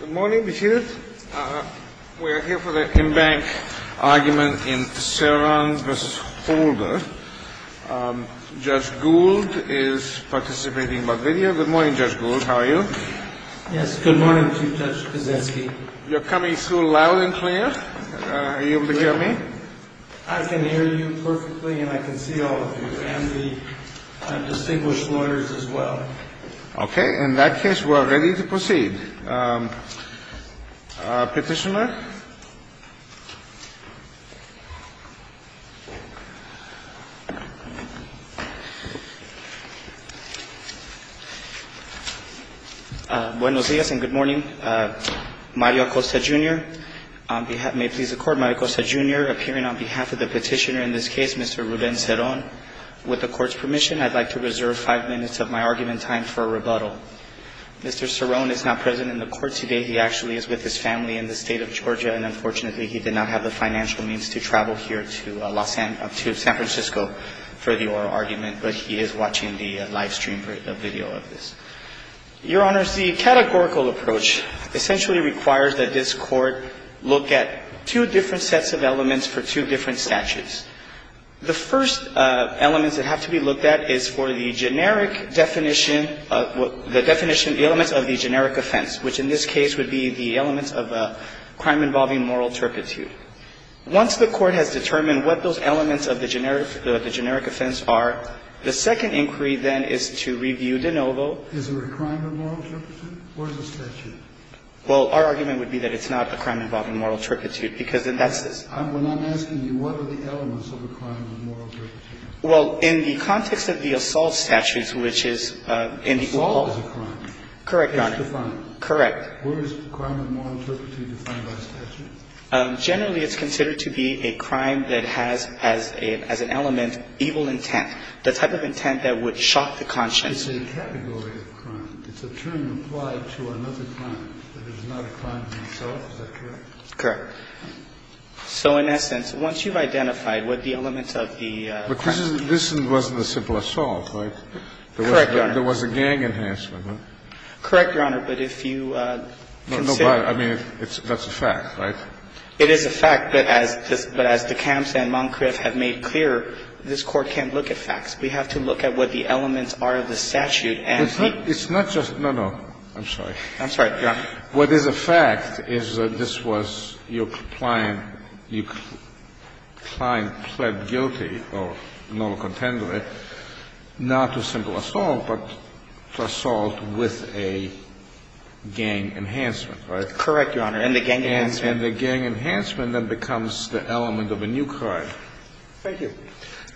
Good morning, be seated. We are here for the in-bank argument in Ceron v. Holder. Judge Gould is participating by video. Good morning, Judge Gould. How are you? Yes, good morning, Chief Judge Kozetsky. You're coming through loud and clear. Are you able to hear me? I can hear you perfectly, and I can see all of you and the distinguished lawyers as well. Okay. In that case, we're ready to proceed. Petitioner. Buenos días and good morning. Mario Acosta, Jr. May it please the Court, Mario Acosta, Jr., appearing on behalf of the petitioner in this case, Mr. Ruben Ceron. With the Court's permission, I'd like to reserve five minutes of my argument time for a rebuttal. Mr. Ceron is not present in the Court today. He actually is with his family in the State of Georgia, and unfortunately, he did not have the financial means to travel here to San Francisco for the oral argument, but he is watching the live stream video of this. Your Honors, the categorical approach essentially requires that this Court look at two different sets of elements for two different statutes. The first elements that have to be looked at is for the generic definition of the definition of the elements of the generic offense, which in this case would be the elements of a crime involving moral turpitude. Once the Court has determined what those elements of the generic offense are, the second inquiry then is to review de novo. Is it a crime of moral turpitude, or is it a statute? Well, our argument would be that it's not a crime involving moral turpitude because then that's this. When I'm asking you, what are the elements of a crime of moral turpitude? Well, in the context of the assault statutes, which is in the oral – Assault is a crime. Correct, Your Honor. It's defined. Correct. Where is crime of moral turpitude defined by statute? Generally, it's considered to be a crime that has as an element evil intent, the type of intent that would shock the conscience. It's a category of crime. It's a term applied to another crime that is not a crime in itself. Is that correct? Correct. So in essence, once you've identified what the elements of the crime – But this wasn't a simple assault, right? Correct, Your Honor. There was a gang enhancement. Correct, Your Honor. But if you consider – No, but I mean, that's a fact, right? It is a fact. But as DeKalb and Moncrief have made clear, this Court can't look at facts. We have to look at what the elements are of the statute and – It's not just – no, no. I'm sorry. I'm sorry, Your Honor. What is a fact is that this was your client – your client pled guilty or normal contender not to a simple assault, but to assault with a gang enhancement, right? Correct, Your Honor. And the gang enhancement – And the gang enhancement then becomes the element of a new crime. Thank you.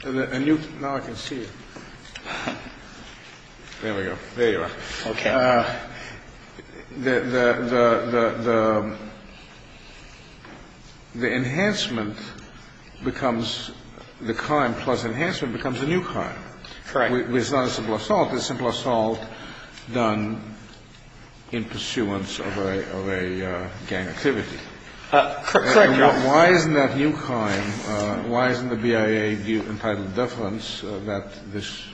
A new – now I can see you. There we go. There you are. Okay. The enhancement becomes – the crime plus enhancement becomes a new crime. Correct. It's not a simple assault. It's a simple assault done in pursuance of a gang activity. Correct, Your Honor. But why isn't that new crime – why isn't the BIA view entitled deference that this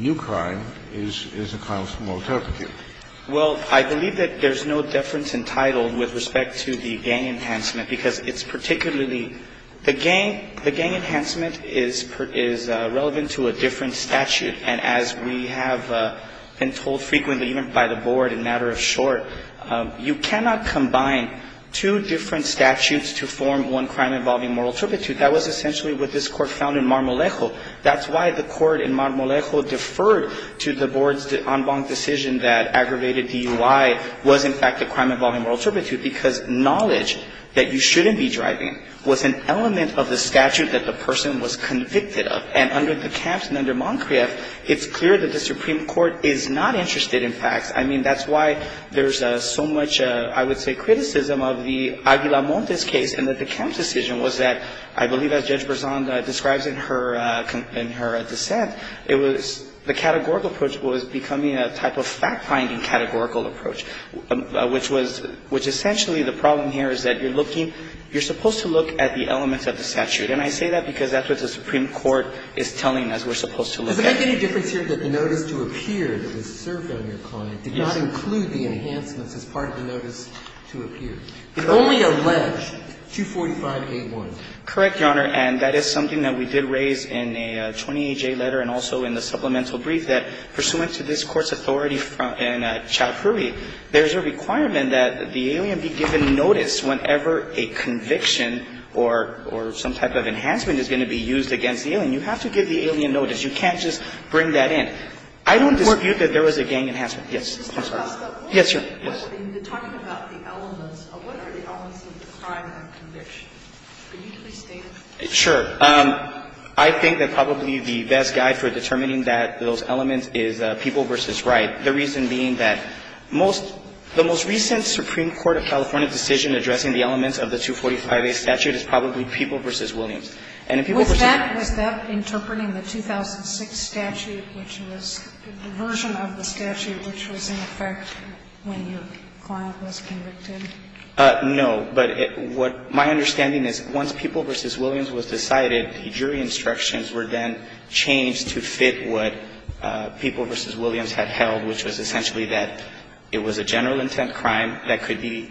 new crime is a crime of moral turpitude? Well, I believe that there's no deference entitled with respect to the gang enhancement because it's particularly – the gang enhancement is relevant to a different statute. And as we have been told frequently, even by the Board in a matter of short, you cannot combine two different statutes to form one crime involving moral turpitude. That was essentially what this Court found in Marmolejo. That's why the Court in Marmolejo deferred to the Board's en banc decision that aggravated DUI was, in fact, a crime involving moral turpitude because knowledge that you shouldn't be driving was an element of the statute that the person was convicted of. And under the camps and under Moncrieff, it's clear that the Supreme Court is not interested in facts. I mean, that's why there's so much, I would say, criticism of the Aguilar-Montes case and that the camps' decision was that, I believe as Judge Berzon describes in her dissent, it was – the categorical approach was becoming a type of fact-finding categorical approach, which was – which essentially the problem here is that you're looking – you're supposed to look at the elements of the statute. And I say that because that's what the Supreme Court is telling us we're supposed to look at. Does it make any difference here that the notice to appear that was served on your client did not include the enhancements as part of the notice to appear? It only alleged 245A1. Correct, Your Honor. And that is something that we did raise in a 28-J letter and also in the supplemental brief, that pursuant to this Court's authority in Chowdhury, there's a requirement that the alien be given notice whenever a conviction or – or some type of enhancement is going to be used against the alien. You have to give the alien notice. You can't just bring that in. I don't disavow that there was a gang enhancement. Yes. I'm sorry. Yes, Your Honor. Yes. When you're talking about the elements, what are the elements of the crime of conviction? Can you at least state it? Sure. I think that probably the best guide for determining that – those elements is People v. Wright, the reason being that most – the most recent Supreme Court of California decision addressing the elements of the 245A statute is probably People v. Williams. Was that interpreting the 2006 statute, which was a version of the statute which was in effect when your client was convicted? No. But what my understanding is, once People v. Williams was decided, the jury instructions were then changed to fit what People v. Williams had held, which was essentially that it was a general intent crime that could be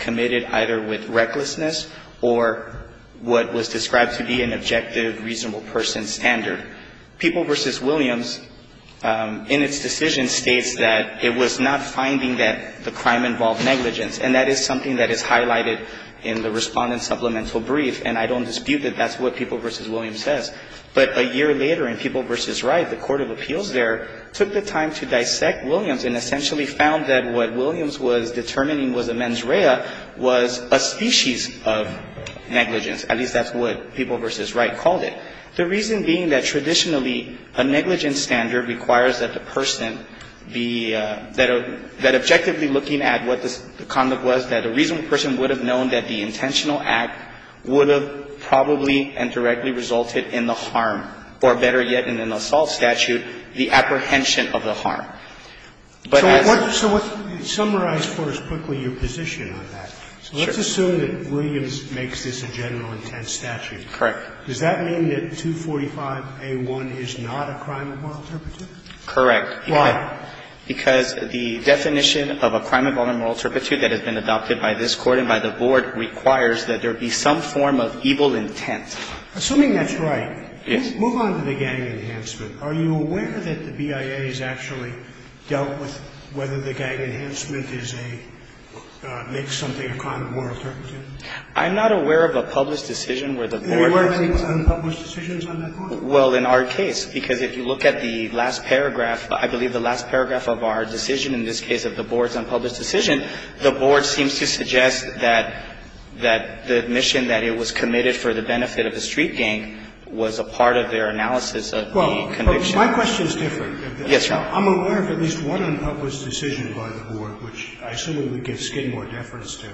committed either with recklessness or what was described to be an objective, reasonable person standard. People v. Williams, in its decision, states that it was not finding that the crime involved negligence, and that is something that is highlighted in the Respondent Supplemental Brief, and I don't dispute that that's what People v. Williams says. But a year later in People v. Wright, the court of appeals there took the time to dissect Williams and essentially found that what Williams was determining was a negligence, at least that's what People v. Wright called it. The reason being that traditionally a negligence standard requires that the person be, that objectively looking at what the conduct was, that a reasonable person would have known that the intentional act would have probably and directly resulted in the harm, or better yet in an assault statute, the apprehension of the harm. But as So what, summarize for us quickly your position on that. Sure. So let's assume that Williams makes this a general intent statute. Correct. Does that mean that 245A1 is not a crime of moral turpitude? Correct. Why? Because the definition of a crime involving moral turpitude that has been adopted by this Court and by the Board requires that there be some form of evil intent. Assuming that's right. Yes. Move on to the gang enhancement. Are you aware that the BIA has actually dealt with whether the gang enhancement is a, makes something a crime of moral turpitude? I'm not aware of a published decision where the Board has. Were there any unpublished decisions on that point? Well, in our case, because if you look at the last paragraph, I believe the last paragraph of our decision in this case of the Board's unpublished decision, the Board seems to suggest that the admission that it was committed for the benefit of a street gang was a part of their analysis of the conduct. But my question is different. Yes, Your Honor. I'm aware of at least one unpublished decision by the Board, which I assume it would give Skidmore deference to.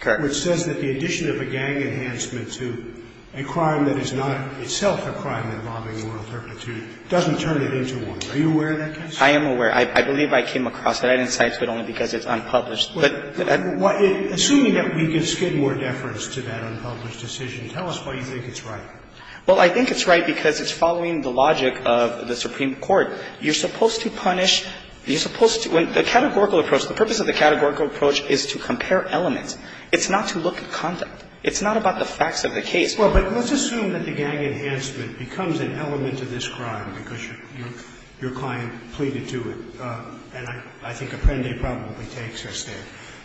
Correct. Which says that the addition of a gang enhancement to a crime that is not itself a crime involving moral turpitude doesn't turn it into one. Are you aware of that case? I am aware. I believe I came across it. I didn't cite it, but only because it's unpublished. Assuming that we give Skidmore deference to that unpublished decision, tell us why you think it's right. Well, I think it's right because it's following the logic of the Supreme Court. You're supposed to punish, you're supposed to, when the categorical approach, the purpose of the categorical approach is to compare elements. It's not to look at conduct. It's not about the facts of the case. Well, but let's assume that the gang enhancement becomes an element of this crime because your client pleaded to it, and I think Apprendi probably takes her stand.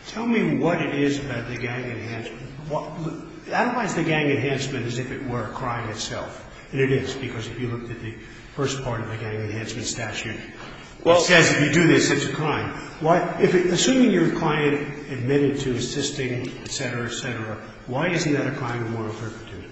Tell me what it is about the gang enhancement. I don't know why it's the gang enhancement as if it were a crime itself. And it is because if you look at the first part of the gang enhancement statute, it says if you do this, it's a crime. Assuming your client admitted to assisting, et cetera, et cetera, why isn't that a crime of moral turpitude?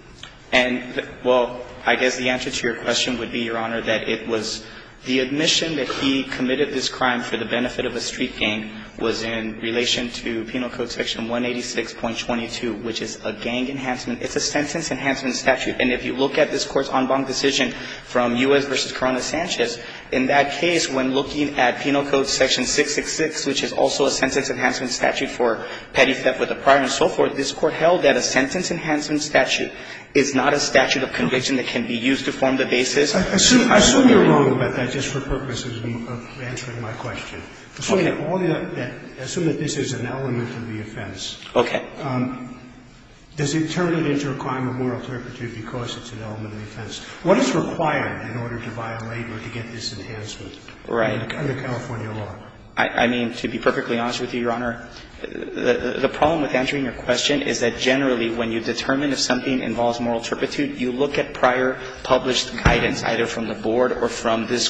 And, well, I guess the answer to your question would be, Your Honor, that it was the admission that he committed this crime for the benefit of a street gang was in relation to penal code section 186.22, which is a gang enhancement. It's a sentence enhancement statute. And if you look at this Court's en banc decision from U.S. v. Corona-Sanchez, in that case, when looking at penal code section 666, which is also a sentence enhancement statute for petty theft with a prior and so forth, this Court held that a sentence enhancement statute is not a statute of conviction that can be used to form the basis. I assume you're wrong about that just for purposes of answering my question. Okay. Assume that this is an element of the offense. Okay. Does it turn it into a crime of moral turpitude because it's an element of the offense? What is required in order to violate or to get this enhancement? Right. Under California law? I mean, to be perfectly honest with you, Your Honor, the problem with answering your question is that generally when you determine if something involves moral turpitude, you look at prior published guidance, either from the Board or from this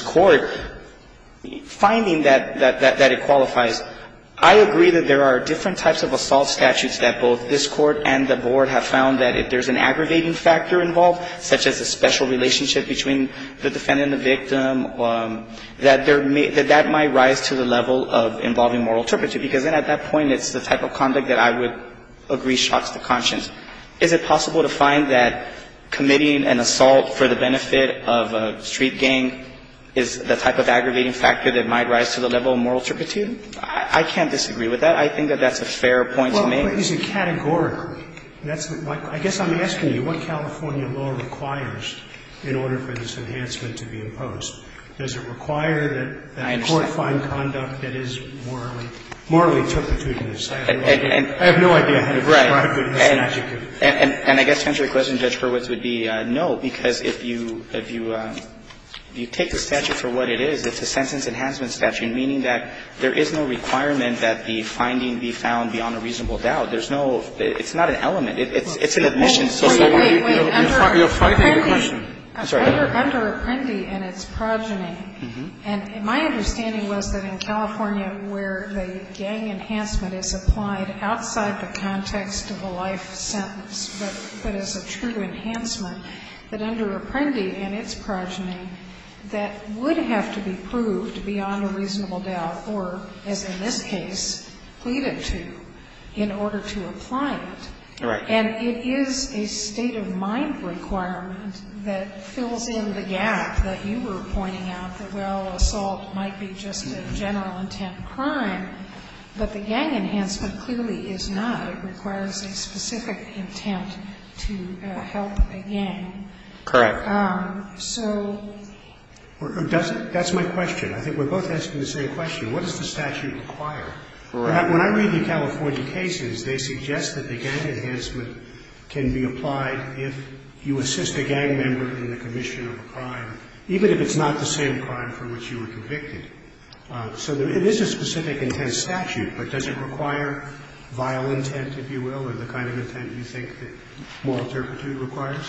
I agree that there are different types of assault statutes that both this Court and the Board have found that if there's an aggravating factor involved, such as a special relationship between the defendant and the victim, that that might rise to the level of involving moral turpitude, because then at that point, it's the type of conduct that I would agree shocks the conscience. Is it possible to find that committing an assault for the benefit of a street gang is the type of aggravating factor that might rise to the level of moral turpitude? I can't disagree with that. I think that that's a fair point to make. Well, but he's a categorical. That's what my question is. I guess I'm asking you what California law requires in order for this enhancement to be imposed. Does it require that the Court find conduct that is morally, morally turpitude in this? I have no idea. I have no idea how to describe it. Right. And I guess to answer your question, Judge Hurwitz, would be no, because if you take the statute for what it is, it's a sentence enhancement statute, meaning that there is no requirement that the finding be found beyond a reasonable doubt. There's no – it's not an element. It's an admission. Wait, wait, wait. You're frightening the question. I'm sorry. Under Apprendi and its progeny, and my understanding was that in California where the gang enhancement is applied outside the context of a life sentence, but as a true enhancement, that under Apprendi and its progeny, that would have to be proved beyond a reasonable doubt or, as in this case, pleaded to in order to apply it. Right. And it is a state-of-mind requirement that fills in the gap that you were pointing out, that, well, assault might be just a general intent crime, but the gang enhancement clearly is not. It requires a specific intent to help a gang. Correct. So... That's my question. I think we're both asking the same question. What does the statute require? Correct. When I read the California cases, they suggest that the gang enhancement can be applied if you assist a gang member in the commission of a crime, even if it's not the same crime for which you were convicted. So there is a specific intent statute, but does it require vile intent, if you will, or the kind of intent you think that moral turpitude requires?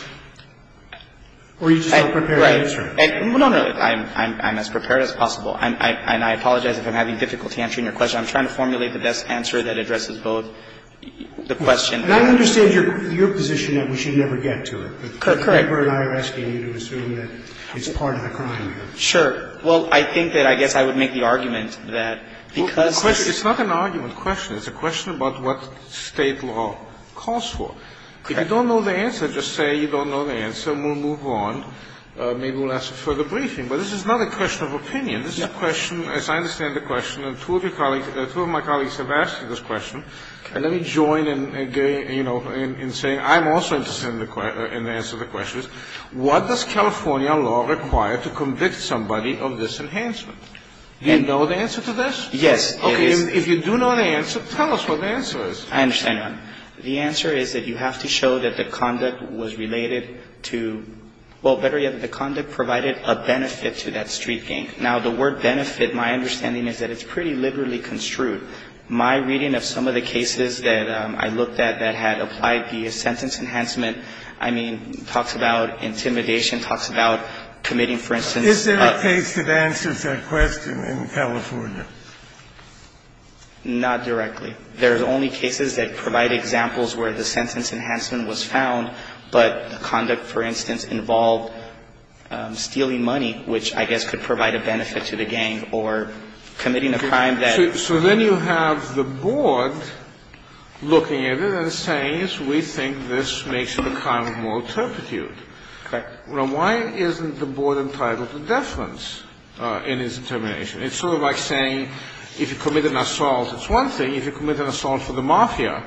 Or are you just not prepared to answer it? Right. No, no. I'm as prepared as possible. And I apologize if I'm having difficulty answering your question. I'm trying to formulate the best answer that addresses both the question and the other. And I understand your position that we should never get to it. Correct. But the paper and I are asking you to assume that it's part of the crime here. Sure. Well, I think that I guess I would make the argument that because the question It's not an argument question. It's a question about what State law calls for. Okay. If you don't know the answer, just say you don't know the answer, and we'll move on. Maybe we'll ask for a further briefing. But this is not a question of opinion. This is a question, as I understand the question, and two of your colleagues or two of my colleagues have asked you this question. Okay. And let me join in, you know, in saying I'm also interested in the answer to the question. What does California law require to convict somebody of this enhancement? Do you know the answer to this? Yes. It is. Okay. If you do know the answer, tell us what the answer is. I understand, Your Honor. The answer is that you have to show that the conduct was related to the conduct provided a benefit to that street gang. Now, the word benefit, my understanding is that it's pretty liberally construed. My reading of some of the cases that I looked at that had applied the sentence enhancement, I mean, talks about intimidation, talks about committing, for instance a Is there a case that answers that question in California? Not directly. There's only cases that provide examples where the sentence enhancement was found, but the conduct, for instance, involved stealing money, which I guess could provide a benefit to the gang, or committing a crime that So then you have the board looking at it and saying, yes, we think this makes it a crime of moral turpitude. Okay. Now, why isn't the board entitled to deference in its determination? It's sort of like saying if you commit an assault, it's one thing. If you commit an assault for the mafia,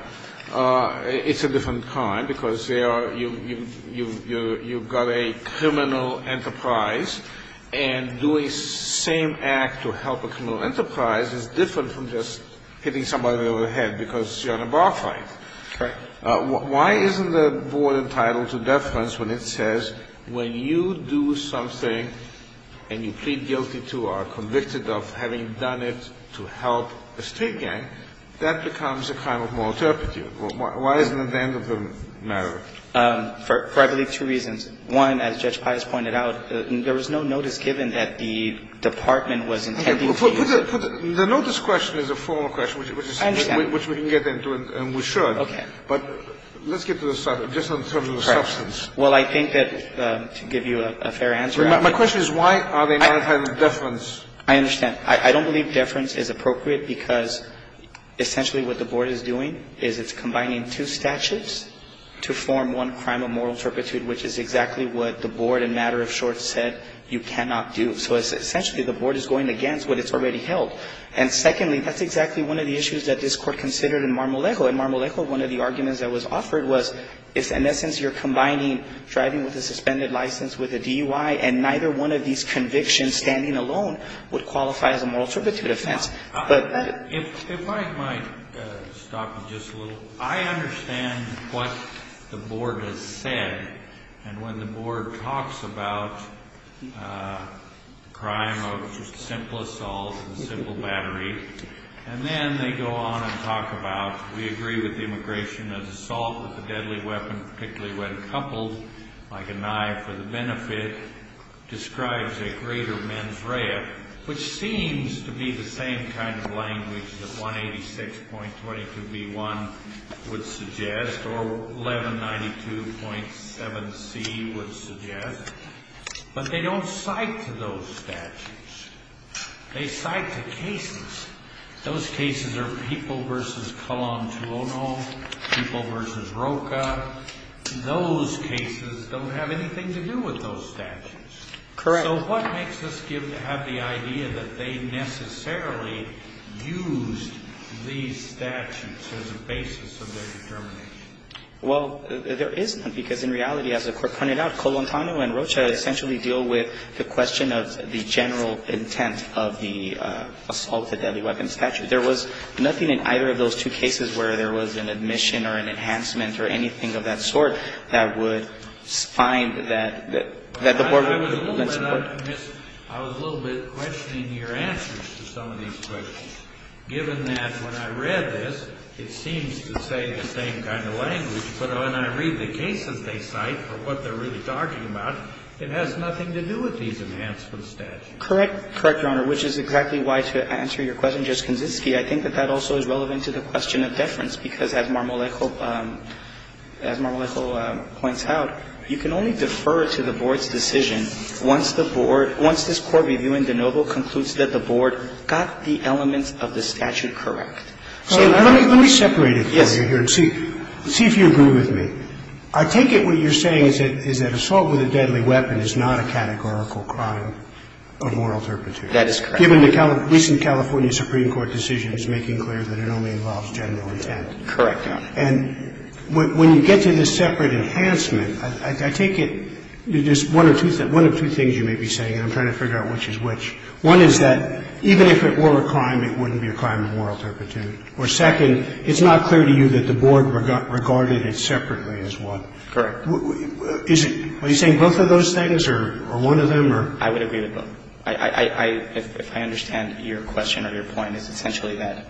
it's a different crime because you've got a criminal enterprise, and doing the same act to help a criminal enterprise is different from just hitting somebody over the head because you're on a bar fight. Okay. Why isn't the board entitled to deference when it says when you do something and you plead guilty to or are convicted of having done it to help a street gang, that becomes a crime of moral turpitude? Why isn't that the end of the matter? For I believe two reasons. One, as Judge Pius pointed out, there was no notice given that the department was intending to use it. Okay. The notice question is a formal question. I understand. Which we can get into, and we should. Okay. But let's get to the substance. Well, I think that to give you a fair answer. My question is why are they not entitled to deference? I understand. I don't believe deference is appropriate because essentially what the board is doing is it's combining two statutes to form one crime of moral turpitude, which is exactly what the board in matter of short said you cannot do. So essentially the board is going against what it's already held. And secondly, that's exactly one of the issues that this Court considered in Marmolejo. In Marmolejo, one of the arguments that was offered was in essence you're combining driving with a suspended license with a DUI, and neither one of these convictions standing alone would qualify as a moral turpitude offense. If I might stop you just a little. I understand what the board has said. And when the board talks about crime of just simple assault and simple battery, and then they go on and talk about we agree with the immigration as assault with a deadly weapon, particularly when coupled like a knife for the benefit, describes a greater mens rea, which seems to be the same kind of language that 186.22b1 would suggest or 1192.7c would suggest, but they don't cite to those statutes. They cite to cases. Those cases are people versus Colón Tuono, people versus Roca. Those cases don't have anything to do with those statutes. Correct. So what makes us have the idea that they necessarily used these statutes as a basis of their determination? Well, there is none, because in reality, as the Court pointed out, Colón Tuono and Roca essentially deal with the question of the general intent of the assault with a deadly weapon statute. There was nothing in either of those two cases where there was an admission or an enhancement or anything of that sort that would find that the Board would support. I was a little bit questioning your answers to some of these questions, given that when I read this, it seems to say the same kind of language, but when I read the cases they cite or what they're really talking about, it has nothing to do with these enhancement statutes. Correct. Correct, Your Honor, which is exactly why, to answer your question, Justice Kaczynski, I think that that also is relevant to the question of deference, because as Marmolejo points out, you can only defer to the Board's decision once the Board, once this Court reviewing de novo concludes that the Board got the elements of the statute correct. So let me separate it for you here and see if you agree with me. I take it what you're saying is that assault with a deadly weapon is not a categorical crime of moral turpitude. That is correct. Given the recent California Supreme Court decision is making clear that it only involves general intent. Correct, Your Honor. And when you get to this separate enhancement, I take it there's one or two things you may be saying, and I'm trying to figure out which is which. One is that even if it were a crime, it wouldn't be a crime of moral turpitude. Or second, it's not clear to you that the Board regarded it separately as one. Correct. Are you saying both of those things or one of them? I would agree with both. If I understand your question or your point, it's essentially that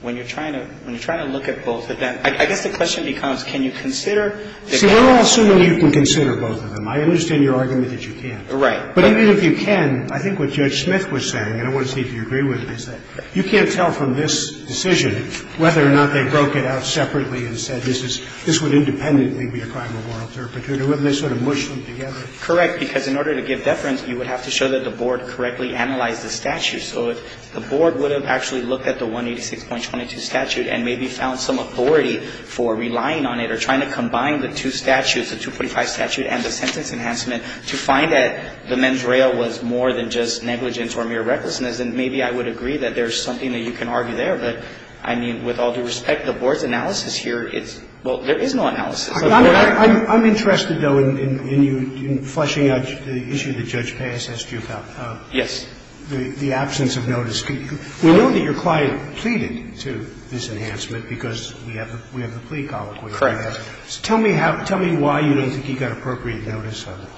when you're trying to look at both of them, I guess the question becomes, can you consider the difference? See, we're all assuming you can consider both of them. I understand your argument that you can't. Right. But even if you can, I think what Judge Smith was saying, and I want to see if you agree with it, is that you can't tell from this decision whether or not they broke it out separately and said this would independently be a crime of moral turpitude or whether they sort of mushed them together. Correct. Because in order to give deference, you would have to show that the Board correctly analyzed the statute. So if the Board would have actually looked at the 186.22 statute and maybe found some authority for relying on it or trying to combine the two statutes, the 245 statute and the sentence enhancement, to find that the mens rea was more than just negligence or mere recklessness, then maybe I would agree that there's something that you can argue there. But, I mean, with all due respect, the Board's analysis here is – well, there is no analysis of the Board. I'm interested, though, in you fleshing out the issue that Judge Paes asked you about. Yes. The absence of notice. We know that your client pleaded to this enhancement because we have the plea colloquy. Correct. Tell me how – tell me why you don't think he got appropriate notice of it.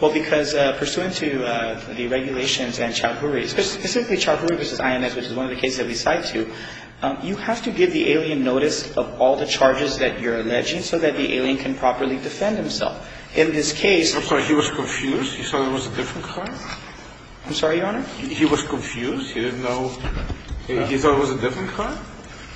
Well, because pursuant to the regulations and Chalhuri, specifically Chalhuri v. INS, which is one of the cases that we cite to, you have to give the alien notice of all the charges that you're alleging so that the alien can properly defend himself. In this case – I'm sorry. He was confused? He thought it was a different client? I'm sorry, Your Honor? He was confused? He didn't know – he thought it was a different client?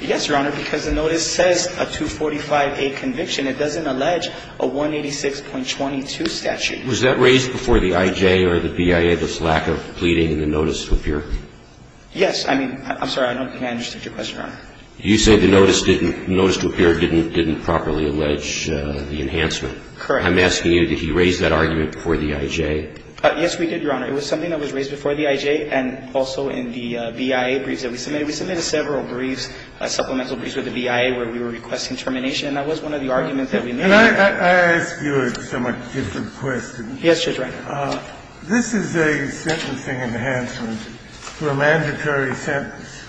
Yes, Your Honor, because the notice says a 245A conviction. It doesn't allege a 186.22 statute. Was that raised before the IJ or the BIA, this lack of pleading in the notice with your – Yes. I mean – I'm sorry. I don't think I understood your question, Your Honor. You said the notice didn't – the notice to appear didn't properly allege the enhancement. Correct. I'm asking you, did he raise that argument before the IJ? Yes, we did, Your Honor. It was something that was raised before the IJ and also in the BIA briefs that we submitted. We submitted several briefs, supplemental briefs with the BIA where we were requesting termination, and that was one of the arguments that we made. Can I ask you a somewhat different question? Yes, Judge Reiner. This is a sentencing enhancement for a mandatory sentence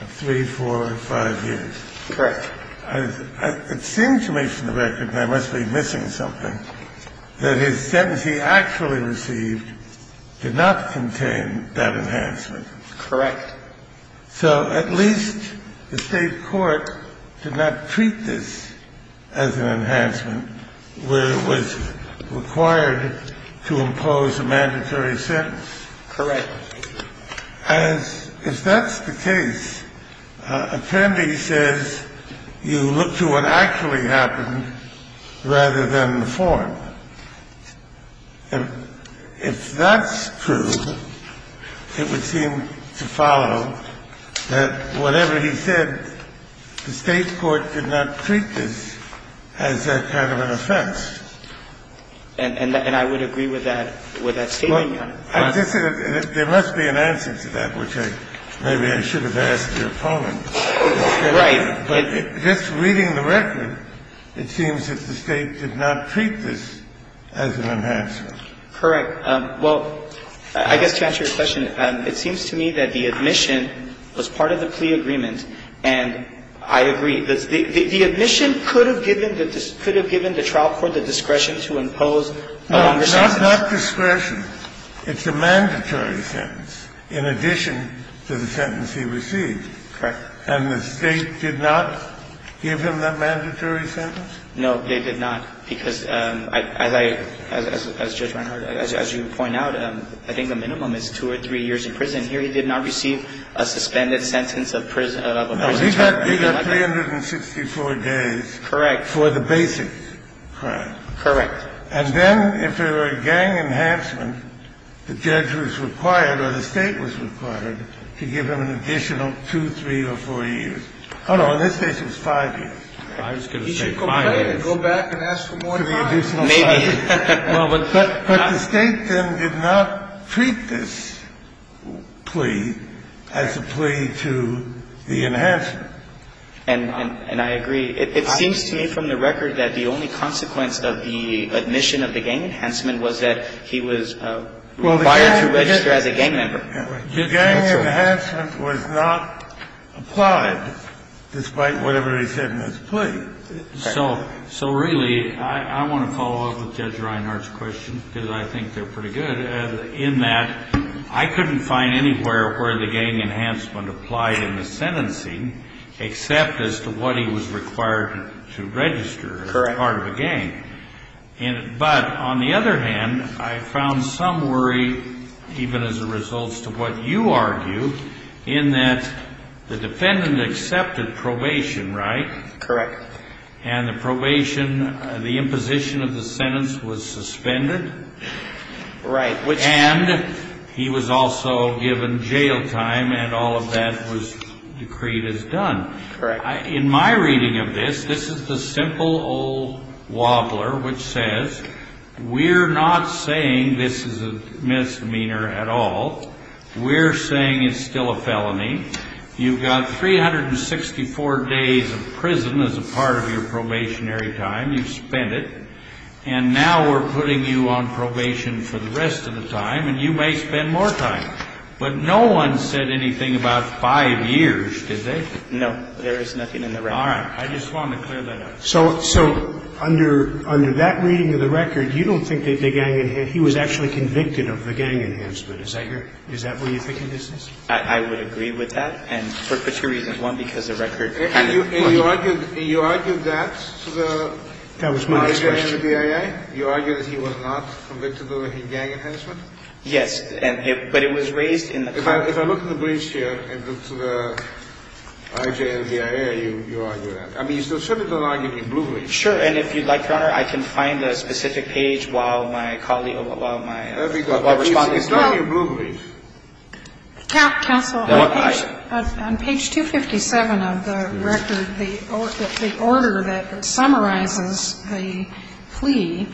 of three, four, five years. Correct. It seems to me from the record, and I must be missing something, that his sentence he actually received did not contain that enhancement. Correct. So at least the state court did not treat this as an enhancement where it was required to impose a mandatory sentence. Correct. As – if that's the case, appendix says you look to what actually happened rather than the form. If that's true, it would seem to follow that whatever he said, the state court did not treat this as a kind of an offense. And I would agree with that statement, Your Honor. There must be an answer to that, which maybe I should have asked your opponent. Right. But just reading the record, it seems that the state did not treat this as an enhancement. Correct. Well, I guess to answer your question, it seems to me that the admission was part of the plea agreement, and I agree. The admission could have given the trial court the discretion to impose a longer sentence. No, not discretion. It's a mandatory sentence in addition to the sentence he received. Correct. And the state did not give him that mandatory sentence? No, they did not, because as I – as Judge Reinhart, as you point out, I think the minimum is two or three years in prison. Here he did not receive a suspended sentence of a prison term. No, he got 364 days. Correct. For the basic crime. Correct. And then if it were a gang enhancement, the judge was required or the state was required to give him an additional two, three, or four years. Oh, no, in this case it was five years. I was going to say five years. He should go back and ask for more time. Maybe. But the state then did not treat this plea as a plea to the enhancement. And I agree. It seems to me from the record that the only consequence of the admission of the gang enhancement was that he was required to register as a gang member. The gang enhancement was not applied, despite whatever he said in his plea. So really, I want to follow up with Judge Reinhart's question, because I think they're pretty good, in that I couldn't find anywhere where the gang enhancement applied in the sentencing except as to what he was required to register as part of a gang. Correct. But on the other hand, I found some worry, even as a result to what you argue, in that the defendant accepted probation, right? Correct. And the probation, the imposition of the sentence was suspended. Right. And he was also given jail time and all of that was decreed as done. Correct. In my reading of this, this is the simple old wobbler, which says we're not saying this is a misdemeanor at all. We're saying it's still a felony. You've got 364 days of prison as a part of your probationary time. You've spent it. And now we're putting you on probation for the rest of the time, and you may spend more time. But no one said anything about five years, did they? No. There is nothing in the record. All right. I just wanted to clear that up. So under that reading of the record, you don't think that the gang enhancement he was actually convicted of the gang enhancement. Is that what you think it is? I would agree with that, and for two reasons. One, because the record kind of pointed to it. And you argued that to the FBI and the BIA? Yes. But it was raised in the court. If I look at the briefs here and look to the IJ and the BIA, you argue that. I mean, you certainly don't argue the blue brief. Sure. And if you'd like, Your Honor, I can find a specific page while my colleague or while my respondent is talking. It's not the blue brief. Counsel, on page 257 of the record, the order that summarizes the plea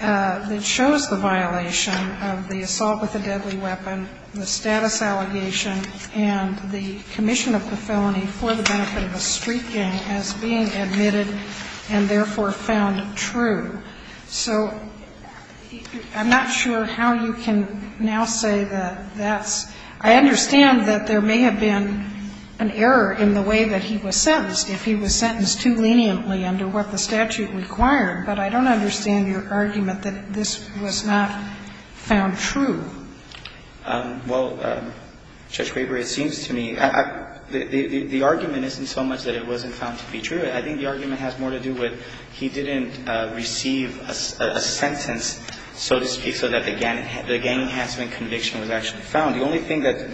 that shows the violation of the assault with a deadly weapon, the status allegation, and the commission of the felony for the benefit of a street gang as being admitted and therefore found true. So I'm not sure how you can now say that that's – I understand that there may have been an error in the way that he was sentenced, if he was sentenced too leniently under what the statute required, but I don't understand your argument that this was not found true. Well, Judge Graber, it seems to me the argument isn't so much that it wasn't found to be true. I think the argument has more to do with he didn't receive a sentence, so to speak, so that the gang enhancement conviction was actually found. The only thing that's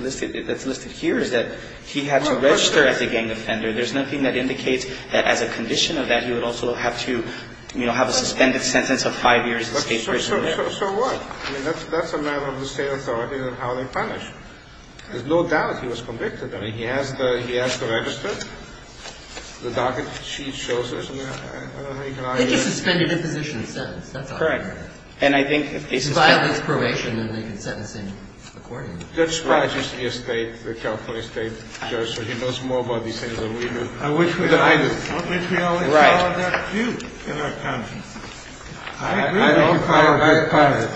listed here is that he had to register as a gang offender. There's nothing that indicates that as a condition of that, he would also have to, you know, have a suspended sentence of five years in state prison. So what? I mean, that's a matter of the State authority and how they punish. There's no doubt that he was convicted. I mean, he has the – he has the register. The docket sheet shows it. I don't know how you can argue that. I think it's a suspended imposition sentence. That's all. Correct. And I think if it's – If it's violation, then they can sentence him accordingly. Judge Spratt used to be a State – a California State judge, so he knows more about what he's saying than we do. I wish we – I wish we always followed that view in our conscience. I agree with you.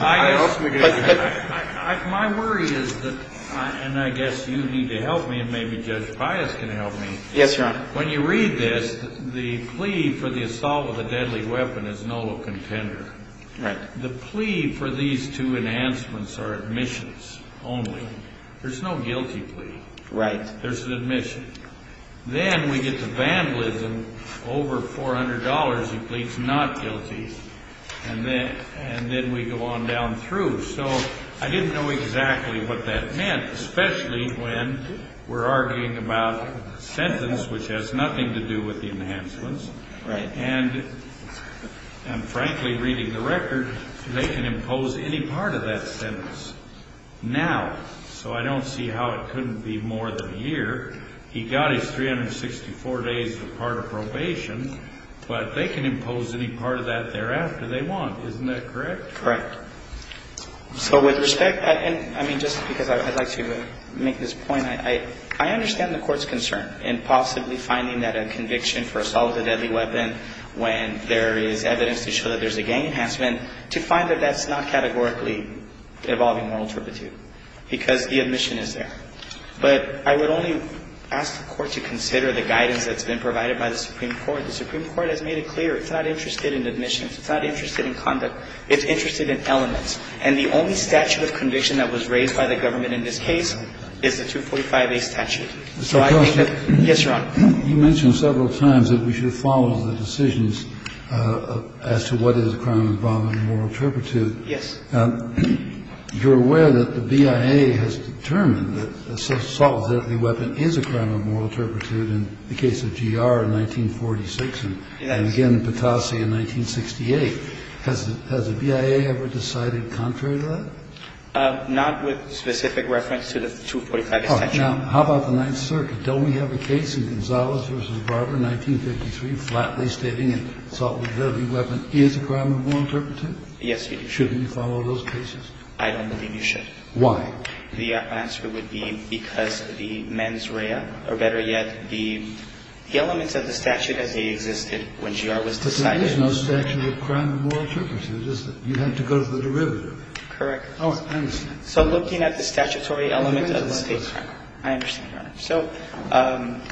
I agree with you. My worry is that – and I guess you need to help me and maybe Judge Pius can help me. Yes, Your Honor. When you read this, the plea for the assault with a deadly weapon is no contender. Right. The plea for these two enhancements are admissions only. There's no guilty plea. Right. There's an admission. Then we get to vandalism, over $400, he pleads not guilty. And then we go on down through. So I didn't know exactly what that meant, especially when we're arguing about a sentence which has nothing to do with the enhancements. Right. And, frankly, reading the record, they can impose any part of that sentence now. So I don't see how it couldn't be more than a year. He got his 364 days of part of probation, but they can impose any part of that thereafter they want. Isn't that correct? Correct. So with respect – and, I mean, just because I'd like to make this point, I understand the court's concern in possibly finding that a conviction for assault with a deadly weapon when there is evidence to show that there's a gang enhancement, to find that that's not categorically involving moral turpitude, because the admission is there. But I would only ask the Court to consider the guidance that's been provided by the Supreme Court. The Supreme Court has made it clear it's not interested in admissions. It's not interested in conduct. It's interested in elements. And the only statute of conviction that was raised by the government in this case is the 245A statute. So I think that – yes, Your Honor. You mentioned several times that we should follow the decisions as to what is a crime involving moral turpitude. Yes. You're aware that the BIA has determined that assault with a deadly weapon is a crime of moral turpitude in the case of GR in 1946 and again in Patasi in 1968. Has the BIA ever decided contrary to that? Not with specific reference to the 245A statute. Now, how about the Ninth Circuit? Don't we have a case in Gonzales v. Barber, 1953, flatly stating an assault with a deadly weapon is a crime of moral turpitude? Yes, we do. Shouldn't you follow those cases? I don't believe you should. Why? The answer would be because the mens rea, or better yet, the elements of the statute as they existed when GR was decided. But there is no statute of crime of moral turpitude. You have to go to the derivative. Correct. Oh, I understand. So looking at the statutory element of the statute. I understand, Your Honor. So.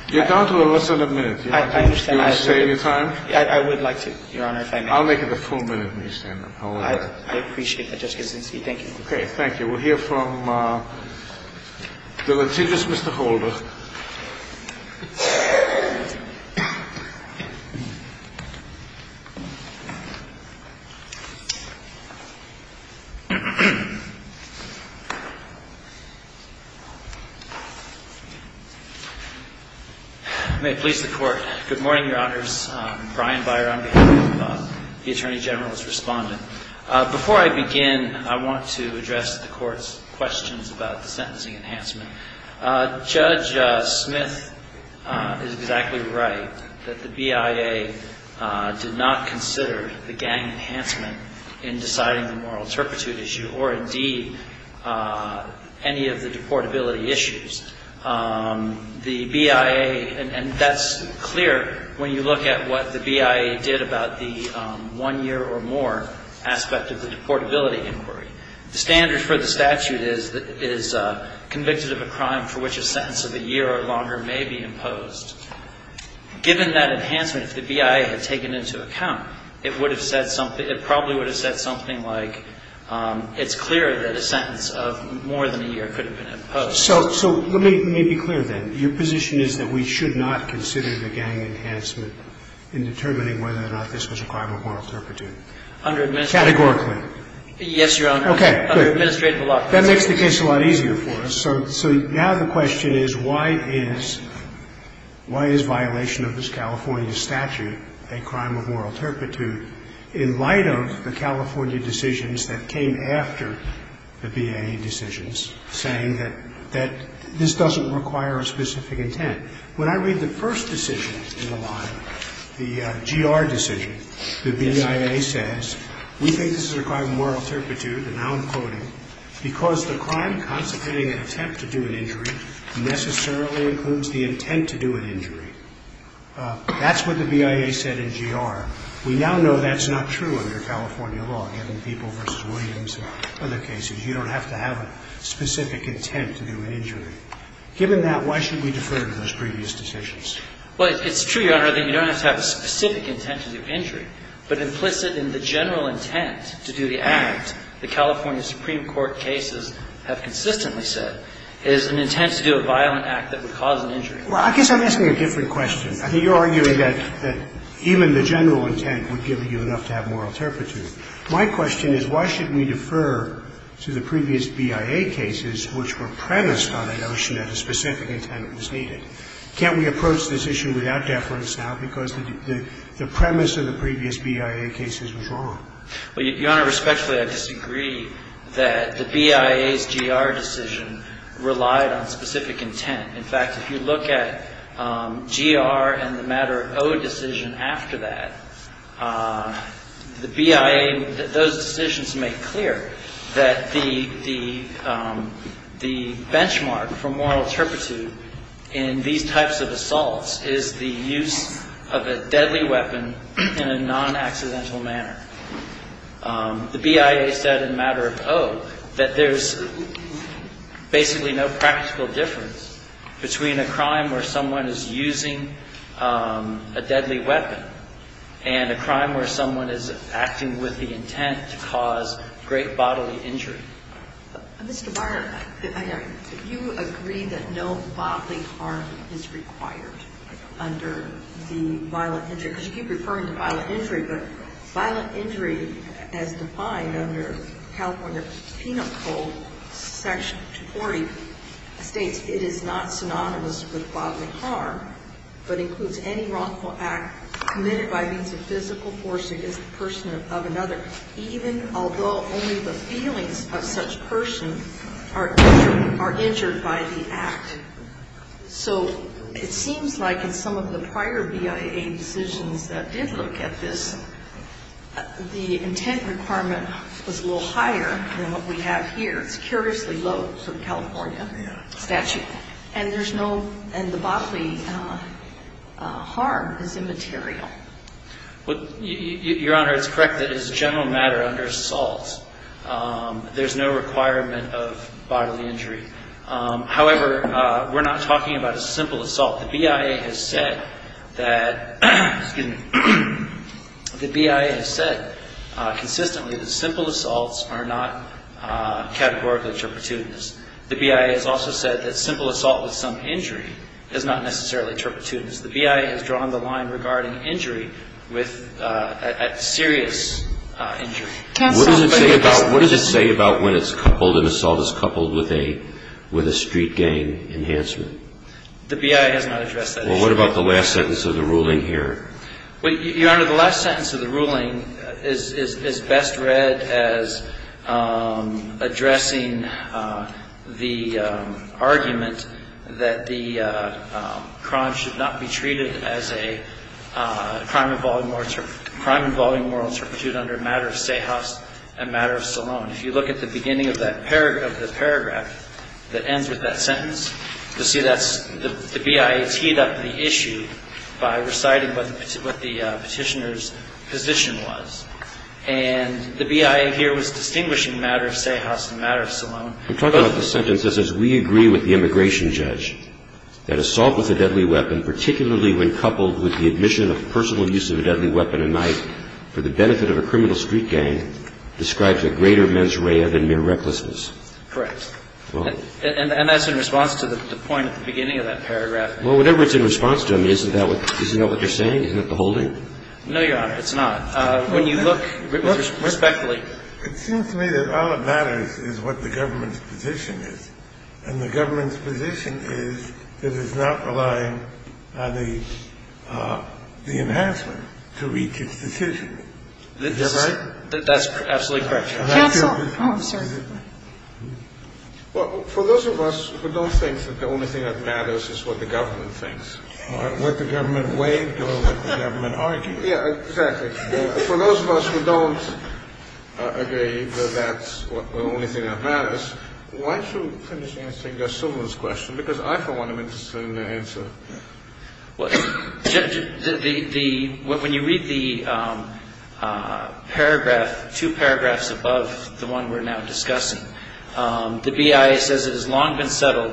You're down to a less than a minute. I understand. Do you want to save your time? I would like to, Your Honor, if I may. I'll make it a full minute. I appreciate that, Justice Ginsburg. Thank you. Thank you. We'll hear from the litigious Mr. Holder. May it please the Court. Good morning, Your Honors. Brian Byer on behalf of the Attorney General's Respondent. Before I begin, I want to address the Court's questions about the sentencing enhancement. Judge Smith is exactly right, that the BIA did not consider the gang enhancement in deciding the moral turpitude issue or, indeed, any of the deportability issues. The BIA, and that's clear when you look at what the BIA did about the one year or more aspect of the deportability inquiry. The standard for the statute is convicted of a crime for which a sentence of a year or longer may be imposed. Given that enhancement, if the BIA had taken into account, it probably would have said something like, it's clear that a sentence of more than a year could have been imposed. So let me be clear, then. Your position is that we should not consider the gang enhancement in determining whether or not this was a crime of moral turpitude? Under admission. Categorically. Yes, Your Honor. Okay. Under administrative law. That makes the case a lot easier for us. So now the question is, why is violation of this California statute a crime of moral turpitude in light of the California decisions that came after the BIA decisions, saying that this doesn't require a specific intent? When I read the first decision in the law, the GR decision, the BIA says, we think this is a crime of moral turpitude, and now I'm quoting, because the crime constituting an attempt to do an injury necessarily includes the intent to do an injury. That's what the BIA said in GR. We now know that's not true under California law, given people versus Williams and other cases. You don't have to have a specific intent to do an injury. Given that, why should we defer to those previous decisions? Well, it's true, Your Honor, that you don't have to have a specific intent to do an injury. The general intent to do the act, the California Supreme Court cases have consistently said, is an intent to do a violent act that would cause an injury. Well, I guess I'm asking a different question. I think you're arguing that even the general intent would give you enough to have moral turpitude. My question is, why should we defer to the previous BIA cases which were premised on a notion that a specific intent was needed? Can't we approach this issue without deference now because the premise of the previous BIA cases was wrong? Well, Your Honor, respectfully, I disagree that the BIA's GR decision relied on specific intent. In fact, if you look at GR and the matter of O decision after that, the BIA, those decisions make clear that the benchmark for moral turpitude in these types of assaults is the use of a deadly weapon in a non-accidental manner. The BIA said in the matter of O that there's basically no practical difference between a crime where someone is using a deadly weapon and a crime where someone is acting with the intent to cause great bodily injury. Mr. Barnard, you agree that no bodily harm is required under the violent injury because you keep referring to violent injury, but violent injury as defined under California Penal Code Section 40 states it is not synonymous with bodily harm, but includes any wrongful act committed by means of physical force against the person of another, even although only the feelings of such person are injured by the act. So it seems like in some of the prior BIA decisions that did look at this, the intent requirement was a little higher than what we have here. It's curiously low for the California statute. And there's no — and the bodily harm is immaterial. Well, Your Honor, it's correct that it's a general matter under assault. There's no requirement of bodily injury. However, we're not talking about a simple assault. The BIA has said that — excuse me. The BIA has said consistently that simple assaults are not categorically turpitude. The BIA has also said that simple assault with some injury is not necessarily turpitude. The BIA has drawn the line regarding injury with — serious injury. What does it say about when it's coupled, an assault is coupled with a street gang enhancement? The BIA has not addressed that issue. Well, what about the last sentence of the ruling here? Well, Your Honor, the last sentence of the ruling is best read as addressing the argument that the crime should not be treated as a crime involving moral turpitude under a matter of Sejas and matter of Solon. If you look at the beginning of that paragraph that ends with that sentence, you'll see that's — the BIA teed up the issue by reciting what the Petitioner's position was. And the BIA here was distinguishing matter of Sejas and matter of Solon. We're talking about the sentence that says we agree with the immigration judge that assault with a deadly weapon, particularly when coupled with the admission of personal use of a deadly weapon at night for the benefit of a criminal street gang, describes a greater mens rea than mere recklessness. Correct. And that's in response to the point at the beginning of that paragraph. Well, whatever it's in response to, I mean, isn't that what you're saying? Isn't that the holding? No, Your Honor, it's not. When you look respectfully. It seems to me that all that matters is what the government's position is. And the government's position is that it's not relying on the enhancement to reach its decision. Is that right? That's absolutely correct, Your Honor. Counsel. Well, for those of us who don't think that the only thing that matters is what the government thinks. Or what the government weighed or what the government argued. Yeah, exactly. Well, for those of us who don't agree that that's the only thing that matters, why don't you finish answering Judge Sumner's question? Because I, for one, am interested in the answer. Well, Judge, when you read the paragraph, two paragraphs above the one we're now discussing, the BIA says it has long been settled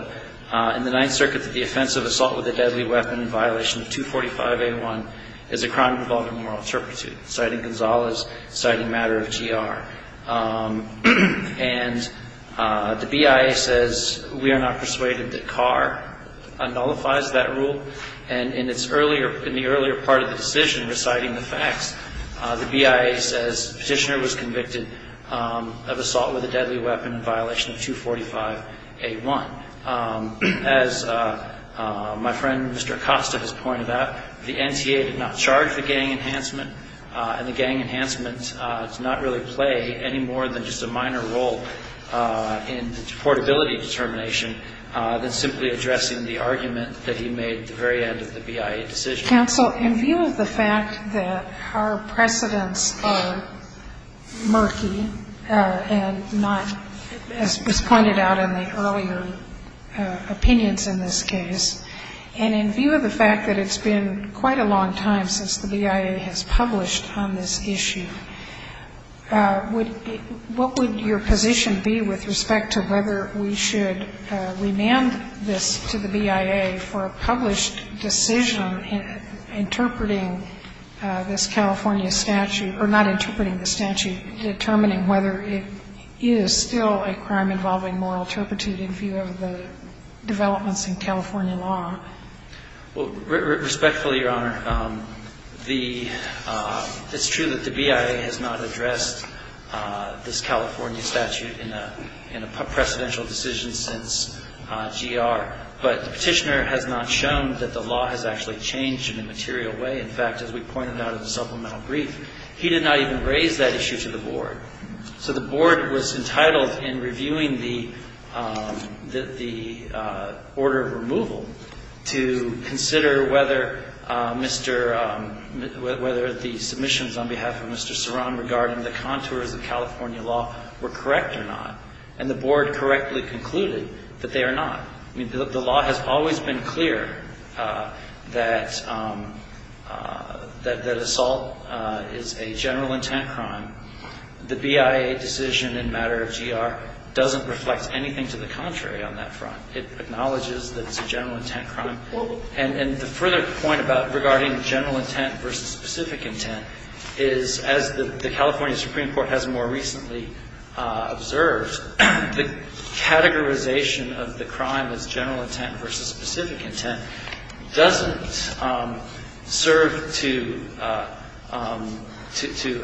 in the Ninth Circuit that the offense of assault with a deadly weapon in violation of 245A1 is a crime involving moral turpitude, citing Gonzalez, citing matter of GR. And the BIA says we are not persuaded that Carr nullifies that rule. And in the earlier part of the decision reciting the facts, the BIA says the petitioner was convicted of assault with a deadly weapon in violation of 245A1. As my friend Mr. Acosta has pointed out, the NTA did not charge the gang enhancement and the gang enhancement does not really play any more than just a minor role in portability determination than simply addressing the argument that he made at the very end of the BIA decision. Counsel, in view of the fact that our precedents are murky and not, as was pointed out in the earlier opinions in this case, and in view of the fact that it's been quite a long time since the BIA has published on this issue, what would your position be with respect to whether we should remand this to the BIA for a published decision interpreting this California statute, or not interpreting the statute, determining whether it is still a crime involving moral turpitude in view of the developments in California law? Well, respectfully, Your Honor, it's true that the BIA has not addressed this California statute in a precedential decision since GR. But the Petitioner has not shown that the law has actually changed in a material way. In fact, as we pointed out in the supplemental brief, he did not even raise that issue to the Board. So the Board was entitled in reviewing the order of removal to consider whether Mr. — whether the submissions on behalf of Mr. Ceran regarding the contours of California law were correct or not. And the Board correctly concluded that they are not. I mean, the law has always been clear that assault is a general intent crime. The BIA decision in matter of GR doesn't reflect anything to the contrary on that front. It acknowledges that it's a general intent crime. And the further point about regarding general intent versus specific intent is, as the California Supreme Court has more recently observed, the categorization of the crime as general intent versus specific intent doesn't serve to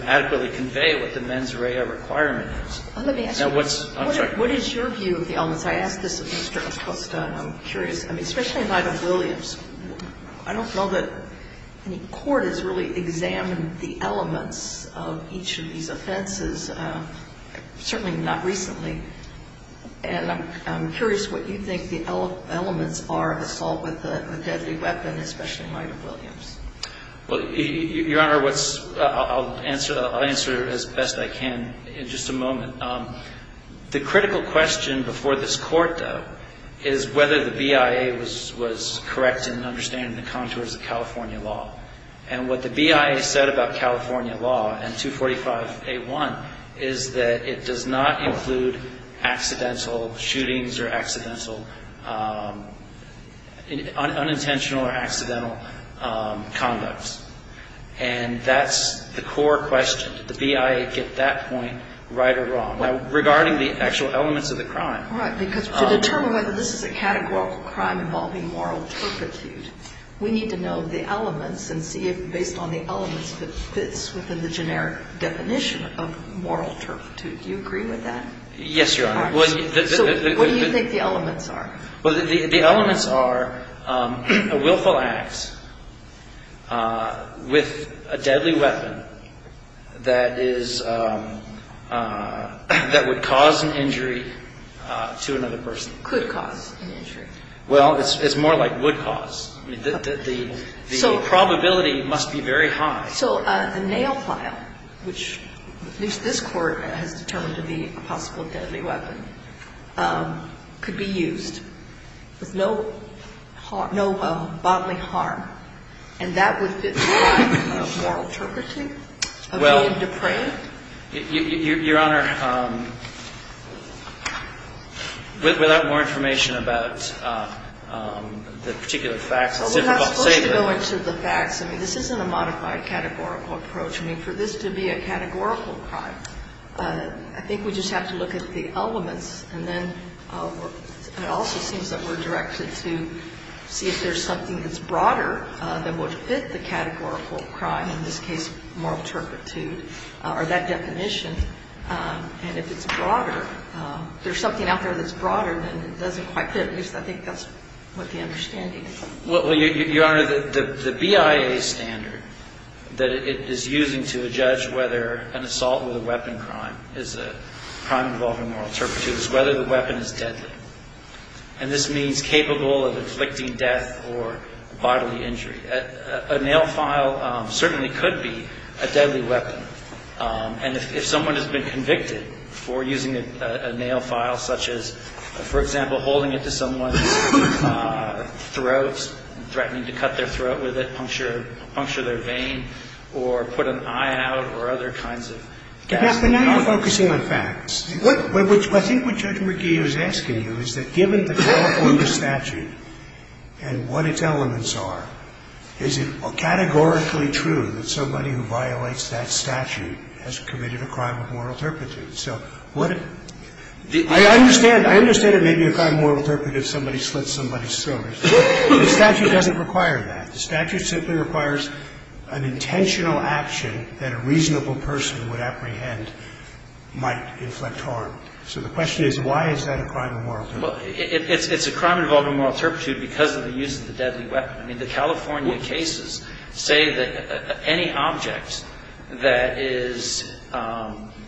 adequately convey what the mens rea requirement is. Now, what's — Let me ask you. I'm sorry. What is your view of the elements? I asked this of Mr. Acosta, and I'm curious. I mean, especially in light of Williams, I don't know that any court has really examined the elements of each of these offenses, certainly not recently. And I'm curious what you think the elements are of assault with a deadly weapon, especially in light of Williams. Well, Your Honor, what's — I'll answer as best I can in just a moment. The critical question before this Court, though, is whether the BIA was correct in understanding the contours of California law. And what the BIA said about California law and 245A1 is that it does not include accidental shootings or accidental — unintentional or accidental conducts. And that's the core question. Did the BIA get that point right or wrong? Now, regarding the actual elements of the crime — Right, because to determine whether this is a categorical crime involving moral turpitude, we need to know the elements and see if, based on the elements, it fits within the generic definition of moral turpitude. Do you agree with that? Yes, Your Honor. So what do you think the elements are? Well, the elements are a willful act with a deadly weapon that is — that would cause an injury to another person. Could cause an injury. Well, it's more like would cause. I mean, the probability must be very high. So the nail file, which at least this Court has determined to be a possible deadly weapon, could be used with no bodily harm, and that would fit within the moral turpitude of being depraved? Your Honor, without more information about the particular facts, it's difficult to say. Well, we're not supposed to go into the facts. I mean, this isn't a modified categorical approach. I mean, for this to be a categorical crime, I think we just have to look at the elements. And then it also seems that we're directed to see if there's something that's broader that would fit the categorical crime, in this case moral turpitude, or that definition. And if it's broader, if there's something out there that's broader, then it doesn't quite fit. At least I think that's what the understanding is. Well, Your Honor, the BIA standard that it is using to judge whether an assault with a weapon crime is a crime involving moral turpitude is whether the weapon is deadly. And this means capable of inflicting death or bodily injury. A nail file certainly could be a deadly weapon. And if someone has been convicted for using a nail file, such as, for example, holding it to someone's throat, threatening to cut their throat with it, puncture their vein, or put an eye out, or other kinds of gas. But now you're focusing on facts. What I think what Judge McGee is asking you is that given the call for the statute and what its elements are, is it categorically true that somebody who violates that statute has committed a crime of moral turpitude? I understand it may be a crime of moral turpitude if somebody slits somebody's throat. The statute doesn't require that. The statute simply requires an intentional action that a reasonable person would inflict harm. So the question is why is that a crime of moral turpitude? Well, it's a crime involving moral turpitude because of the use of the deadly weapon. I mean, the California cases say that any object that is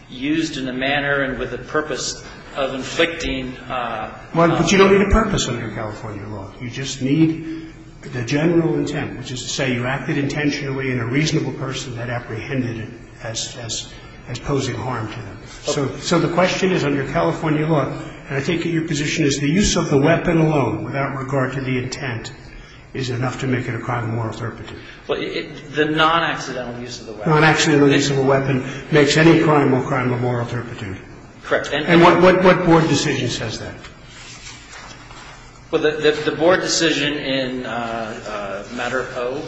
used in a manner and with a purpose of inflicting harm. But you don't need a purpose under California law. You just need the general intent, which is to say you acted intentionally and a reasonable person had apprehended it as posing harm to them. So the question is under California law, and I take it your position is the use of the weapon alone without regard to the intent is enough to make it a crime of moral turpitude. The non-accidental use of the weapon. Non-accidental use of a weapon makes any crime a crime of moral turpitude. Correct. And what Board decision says that? Well, the Board decision in Matter O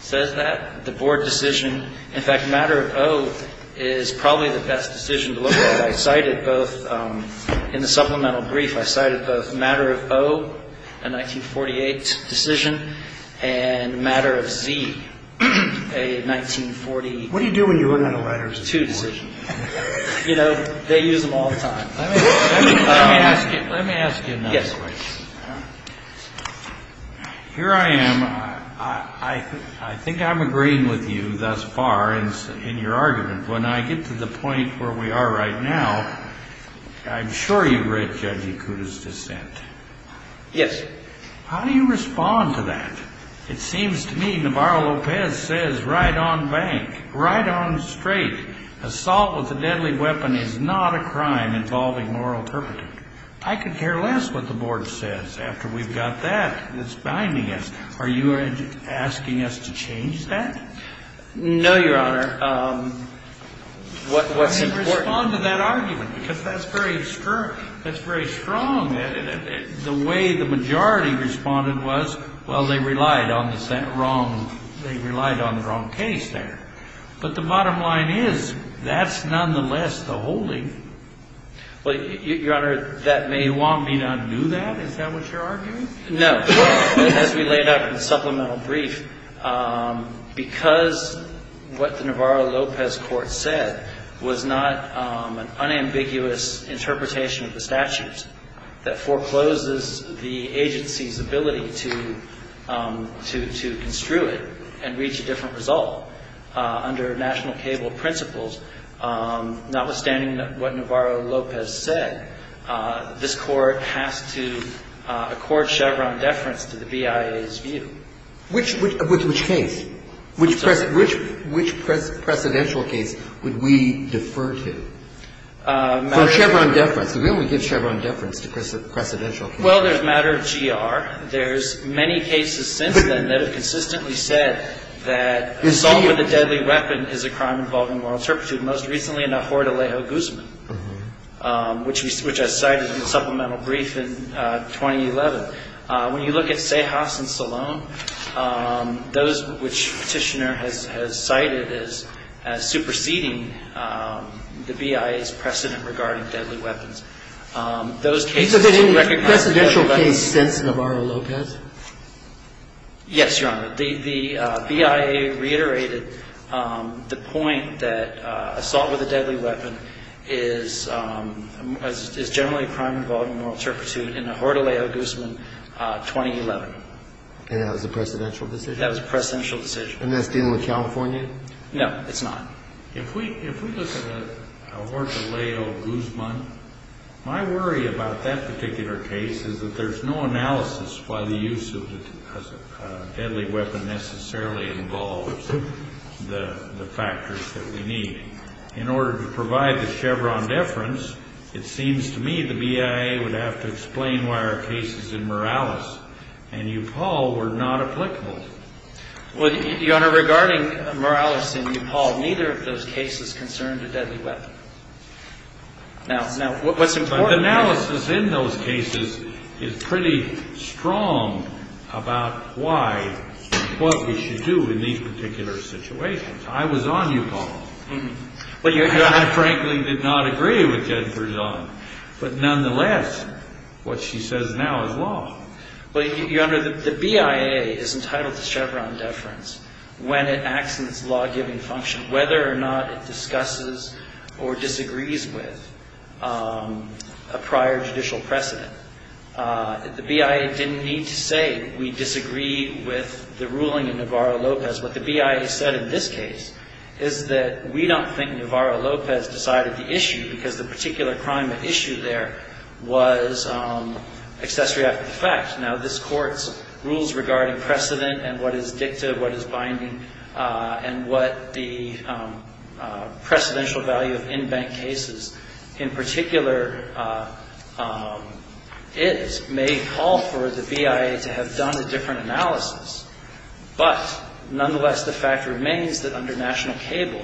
says that. The Board decision, in fact, Matter O is probably the best decision to look at. I cited both in the supplemental brief. I cited both Matter O, a 1948 decision, and Matter Z, a 1940. What do you do when you run out of letters? Two decisions. You know, they use them all the time. Let me ask you another question. Yes. Here I am. I think I'm agreeing with you thus far in your argument. When I get to the point where we are right now, I'm sure you've read Judge Ikuda's dissent. Yes. How do you respond to that? It seems to me Navarro Lopez says right on bank, right on straight, assault with a deadly weapon is not a crime involving moral turpitude. I could care less what the Board says after we've got that. It's binding us. Are you asking us to change that? No, Your Honor. What's important? I didn't respond to that argument because that's very strong. The way the majority responded was, well, they relied on the wrong case there. But the bottom line is that's nonetheless the holding. Well, Your Honor, that may want me to undo that. Is that what you're arguing? No. As we laid out in the supplemental brief, because what the Navarro Lopez court said was not an unambiguous interpretation of the statutes that forecloses the agency's ability to construe it and reach a different result under national cable principles, notwithstanding what Navarro Lopez said, this Court has to accord Chevron deference to the BIA's view. Which case? Which precedential case would we defer to? For Chevron deference. We only give Chevron deference to precedential cases. Well, there's matter of GR. A deadly weapon is a crime involving moral turpitude, most recently in a Horde Alejo Guzman, which I cited in the supplemental brief in 2011. When you look at Cejas and Salon, those which Petitioner has cited as superseding the BIA's precedent regarding deadly weapons, those cases to recognize deadly weapons. Is there any precedential case since Navarro Lopez? Yes, Your Honor. The BIA reiterated the point that assault with a deadly weapon is generally a crime involving moral turpitude in a Horde Alejo Guzman, 2011. And that was a precedential decision? That was a precedential decision. And that's dealing with California? No, it's not. If we look at a Horde Alejo Guzman, my worry about that particular case is that there's no analysis why the use of a deadly weapon necessarily involves the factors that we need. In order to provide the Chevron deference, it seems to me the BIA would have to explain why our cases in Morales and Upaul were not applicable. Well, Your Honor, regarding Morales and Upaul, neither of those cases concerned a deadly weapon. But the analysis in those cases is pretty strong about why, what we should do in these particular situations. I was on Upaul. And I frankly did not agree with Jennifer Zahn. But nonetheless, what she says now is law. Well, Your Honor, the BIA is entitled to Chevron deference when it acts in its law-giving function, whether or not it discusses or disagrees with a prior judicial precedent. The BIA didn't need to say we disagree with the ruling in Navarro-Lopez. What the BIA said in this case is that we don't think Navarro-Lopez decided the issue because the particular crime at issue there was accessory after the fact. Now, this Court's rules regarding precedent and what is dicta, what is binding, and what the precedential value of in-bank cases in particular is may call for the BIA to have done a different analysis. But nonetheless, the fact remains that under national cable,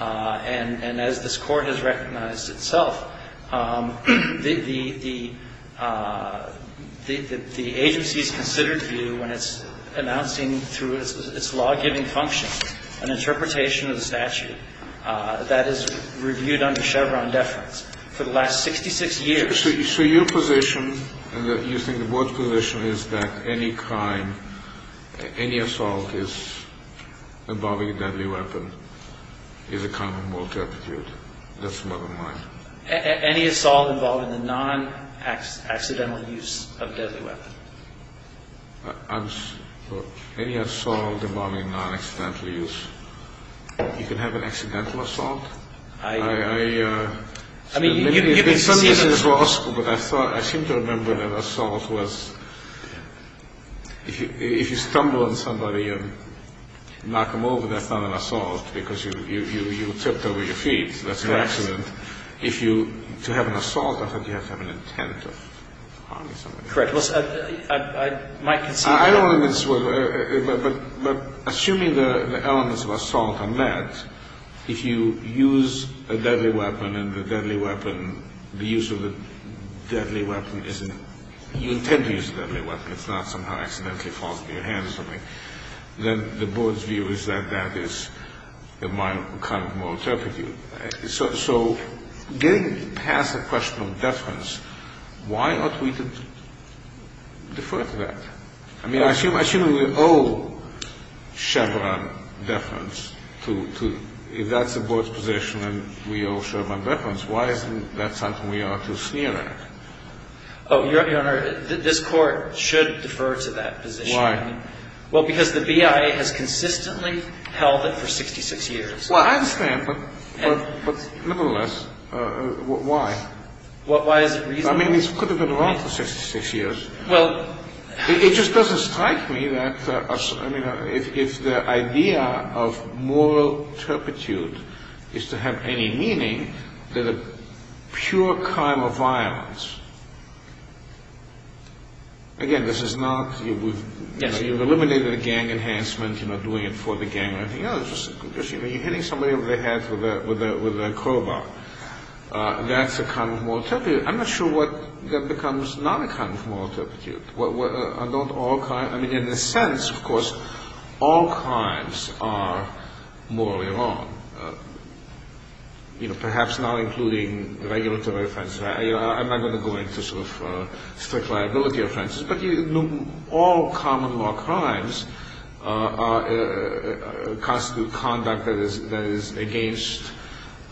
and as this Court has recognized itself, the agency's considered view when it's announcing through its law-giving function an interpretation of the statute that is reviewed under Chevron deference for the last 66 years. So your position, you think the Board's position is that any crime, any assault involving a deadly weapon is a commonwealth attitude. That's the bottom line. Any assault involving the non-accidental use of a deadly weapon. Any assault involving non-accidental use. You can have an accidental assault. I mean, you can see that. In some cases, law school, but I seem to remember that assault was if you stumble on somebody and knock them over, that's not an assault because you tipped over your feet. That's an accident. If you to have an assault, I think you have to have an intent of harming somebody. Correct. I might concede that. I don't know if it's, but assuming the elements of assault are met, if you use a deadly weapon and the deadly weapon, the use of a deadly weapon isn't, you intend to use a deadly weapon. It's not somehow accidentally falls into your hands or something. Then the Board's view is that that is a kind of moral turpitude. So getting past the question of deference, why ought we to defer to that? I mean, I assume we owe Chevron deference to, if that's the Board's position and we owe Chevron deference, why isn't that something we ought to sneer at? Oh, Your Honor, this Court should defer to that position. Why? Well, because the BIA has consistently held it for 66 years. Well, I understand, but nevertheless, why? Why is it reasonable? I mean, this could have been wrong for 66 years. Well. It just doesn't strike me that if the idea of moral turpitude is to have any meaning, that a pure crime of violence, again, this is not, you know, you've eliminated a gang enhancement, you're not doing it for the gang or anything else. You're hitting somebody over the head with a crowbar. That's a kind of moral turpitude. I'm not sure what becomes not a kind of moral turpitude. I mean, in a sense, of course, all crimes are morally wrong. You know, perhaps not including regulatory offenses. I'm not going to go into sort of strict liability offenses, but all common law crimes constitute conduct that is against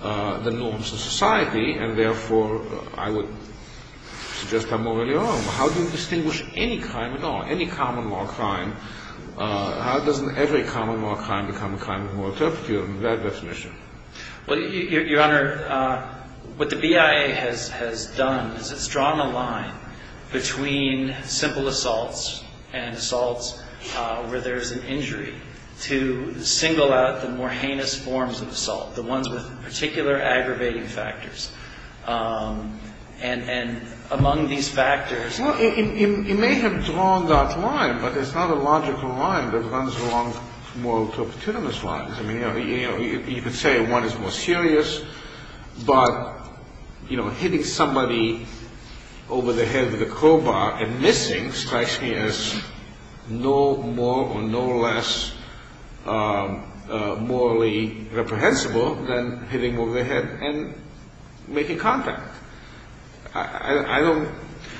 the norms of society, and therefore I would suggest they're morally wrong. How do we distinguish any crime at all, any common law crime? How does every common law crime become a crime of moral turpitude, in that definition? Well, Your Honor, what the BIA has done is it's drawn a line between simple assaults and assaults where there's an injury to single out the more heinous forms of assault, the ones with particular aggravating factors. And among these factors. Well, it may have drawn that line, but it's not a logical line that runs along moral turpitudinous lines. I mean, you know, you could say one is more serious, but, you know, hitting somebody over the head with a crowbar and missing strikes me as no more or no less morally reprehensible than hitting over the head and making contact. I don't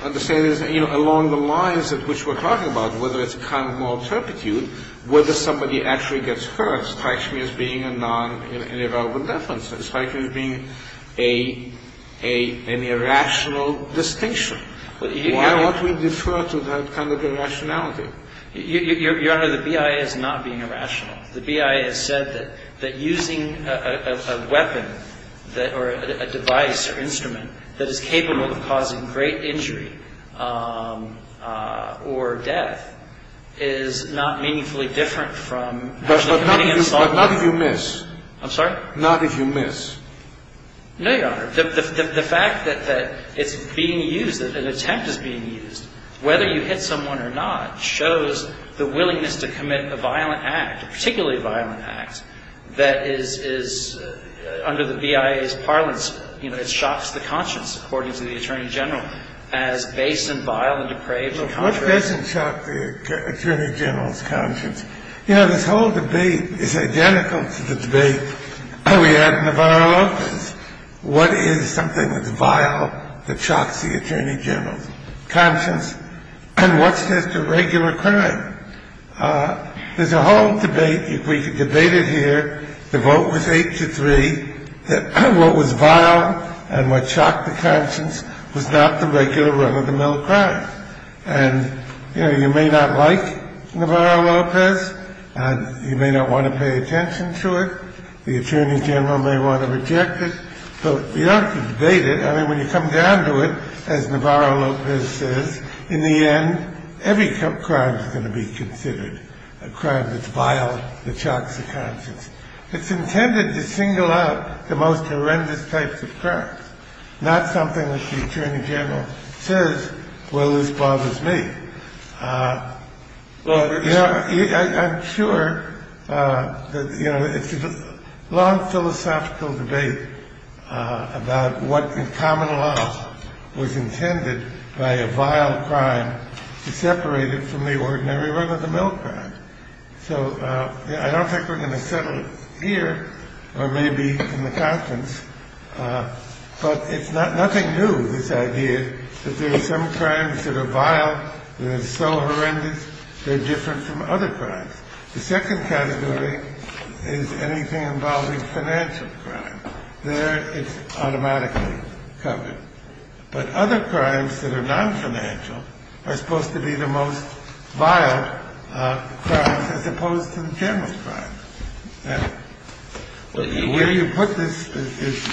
understand, you know, along the lines of which we're talking about, whether it's a crime of moral turpitude, whether somebody actually gets hurt strikes me as being a non- irrelevant offense. It strikes me as being an irrational distinction. Why don't we defer to that kind of irrationality? Your Honor, the BIA is not being irrational. The BIA has said that using a weapon or a device or instrument that is capable of causing great injury or death is not meaningfully different from actually committing an assault. But not if you miss. I'm sorry? Not if you miss. No, Your Honor. The fact that it's being used, that an attempt is being used, whether you hit someone or not, shows the willingness to commit a violent act, a particularly violent act, that is, under the BIA's parlance, you know, it shocks the conscience, according to the attorney general, as base and vile and depraved and contrary. Well, what doesn't shock the attorney general's conscience? You know, this whole debate is identical to the debate we had in the viral offense. What is something that's vile that shocks the attorney general's conscience? And what's just a regular crime? There's a whole debate. If we could debate it here, the vote was 8 to 3, that what was vile and what shocked the conscience was not the regular run-of-the-mill crime. And, you know, you may not like Navarro-Lopez, and you may not want to pay attention to it. The attorney general may want to reject it. But we ought to debate it. I mean, when you come down to it, as Navarro-Lopez says, in the end, every crime is going to be considered a crime that's vile that shocks the conscience. It's intended to single out the most horrendous types of crimes, not something that the attorney general says, well, this bothers me. You know, I'm sure that, you know, it's a long philosophical debate about what in common law was intended by a vile crime to separate it from the ordinary run-of-the-mill crime. So I don't think we're going to settle it here or maybe in the conference. But it's nothing new, this idea that there are some crimes that are vile, that are so horrendous, they're different from other crimes. The second category is anything involving financial crime. There, it's automatically covered. But other crimes that are non-financial are supposed to be the most vile crimes, as opposed to the general crime. The way you put this is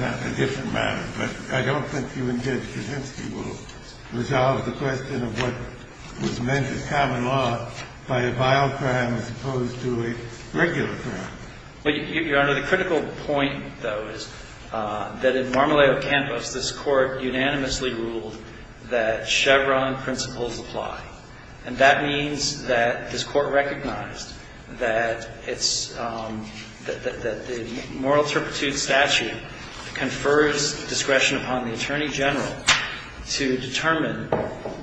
not a different matter, but I don't think you intend to resolve the question of what was meant as common law by a vile crime as opposed to a regular crime. Your Honor, the critical point, though, is that in Marmoleo Campus, this Court unanimously ruled that Chevron principles apply. And that means that this Court recognized that it's, that the moral turpitude statute confers discretion upon the Attorney General to determine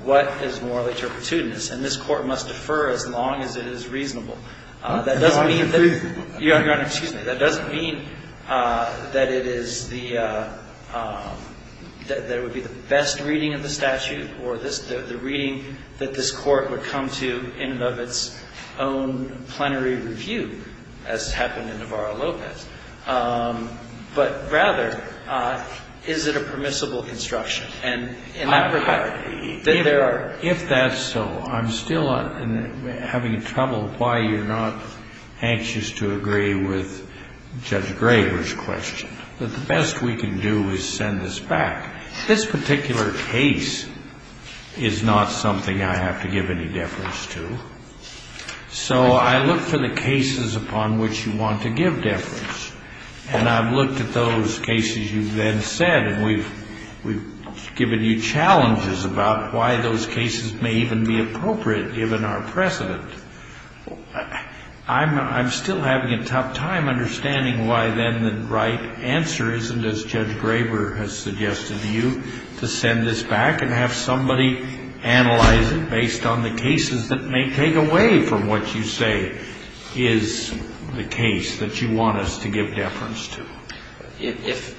what is moral turpitudinous. And this Court must defer as long as it is reasonable. That doesn't mean that, Your Honor, excuse me, that doesn't mean that it is the, that it would be the best reading of the statute or the reading that this Court would come to in and of its own plenary review, as happened in Navarro-Lopez. But rather, is it a permissible construction? And in that regard, that there are. If that's so, I'm still having trouble why you're not anxious to agree with Judge Graber's question. But the best we can do is send this back. This particular case is not something I have to give any deference to. So I look for the cases upon which you want to give deference. And I've looked at those cases you've then said, and we've given you challenges about why those cases may even be appropriate, given our precedent. I'm still having a tough time understanding why, then, the right answer isn't, as Judge Graber has suggested to you, to send this back and have somebody analyze it based on the cases that may take away from what you say is the case that you want us to give deference to. If,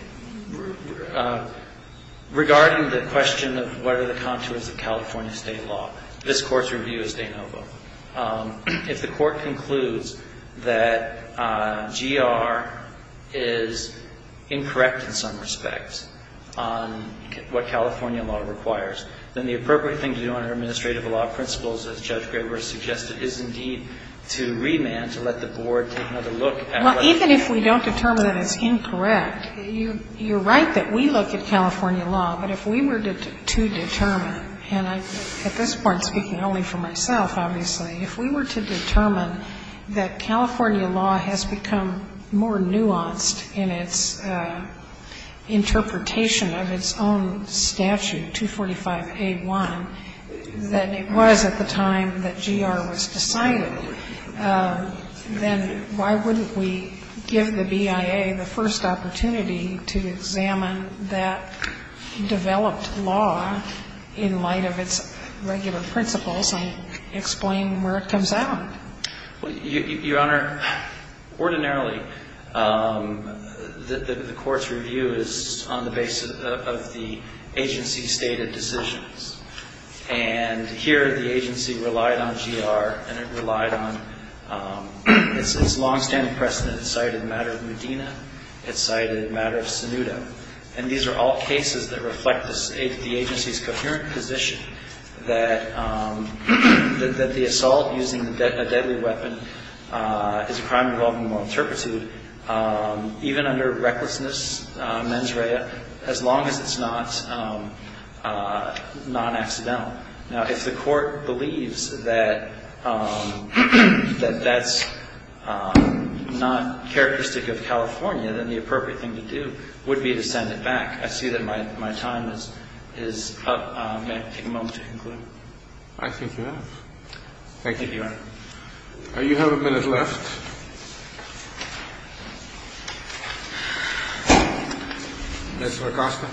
regarding the question of what are the contours of California state law, this Court's review is de novo. If the Court concludes that GR is incorrect in some respects on what California law requires, then the appropriate thing to do under administrative law principles, as Judge Graber has suggested, is indeed to remand, to let the Board take another look at what California law requires. Well, even if we don't determine that it's incorrect, you're right that we look at California law, but if we were to determine, and at this point I'm speaking only for myself, obviously, if we were to determine that California law has become more nuanced in its interpretation of its own statute, 245A1, than it was at the time that GR was decided, then why wouldn't we give the BIA the first opportunity to examine that developed law in light of its regular principles and explain where it comes out? Your Honor, ordinarily, the Court's review is on the basis of the agency-stated decisions. And here the agency relied on GR and it relied on its long-standing precedent that the assault using a deadly weapon is a crime involving moral turpitude, even under recklessness mens rea, as long as it's not non-accidental. Now, if the Court believes that that's not a crime involving moral turpitude, then the appropriate thing to do would be to send it back. I see that my time is up. May I take a moment to conclude? I think you have. Thank you. Thank you, Your Honor. You have a minute left. Mr. Acosta.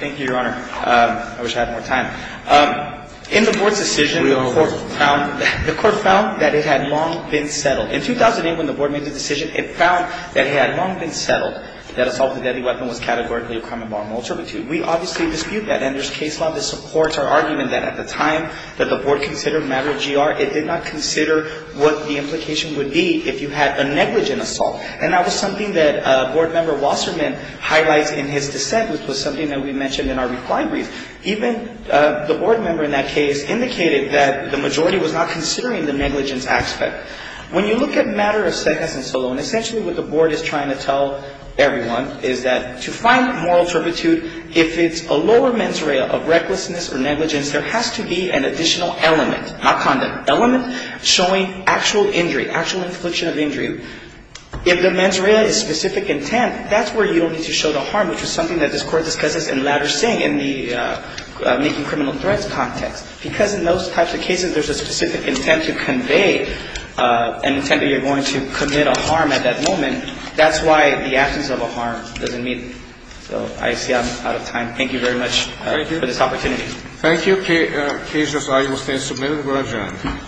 Thank you, Your Honor. I wish I had more time. In the Board's decision, the Court found that it had long been settled. In 2008, when the Board made the decision, it found that it had long been settled that assault with a deadly weapon was categorically a crime involving moral turpitude. We obviously dispute that and there's case law that supports our argument that at the time that the Board considered a matter of GR, it did not consider what the implication would be if you had a negligent assault. And that was something that Board Member Wasserman highlights in his dissent, which was something that we mentioned in our reply brief. Even the Board Member in that case indicated that the majority was not considering the negligence aspect. When you look at a matter of CEJAS and SOLON, essentially what the Board is trying to tell everyone is that to find moral turpitude, if it's a lower mens rea of recklessness or negligence, there has to be an additional element, not conduct, element showing actual injury, actual infliction of injury. If the mens rea is specific intent, that's where you don't need to show the harm, which is something that this Court discusses in Latter Singh in the making criminal threats context. Because in those types of cases, there's a specific intent to convey an intent that you're going to commit a harm at that moment, that's why the absence of a harm doesn't meet. So I see I'm out of time. Thank you very much for this opportunity. Thank you. Thank you. CASE LAWS ARGUMENT STANDS SUBMITTED. We're adjourned.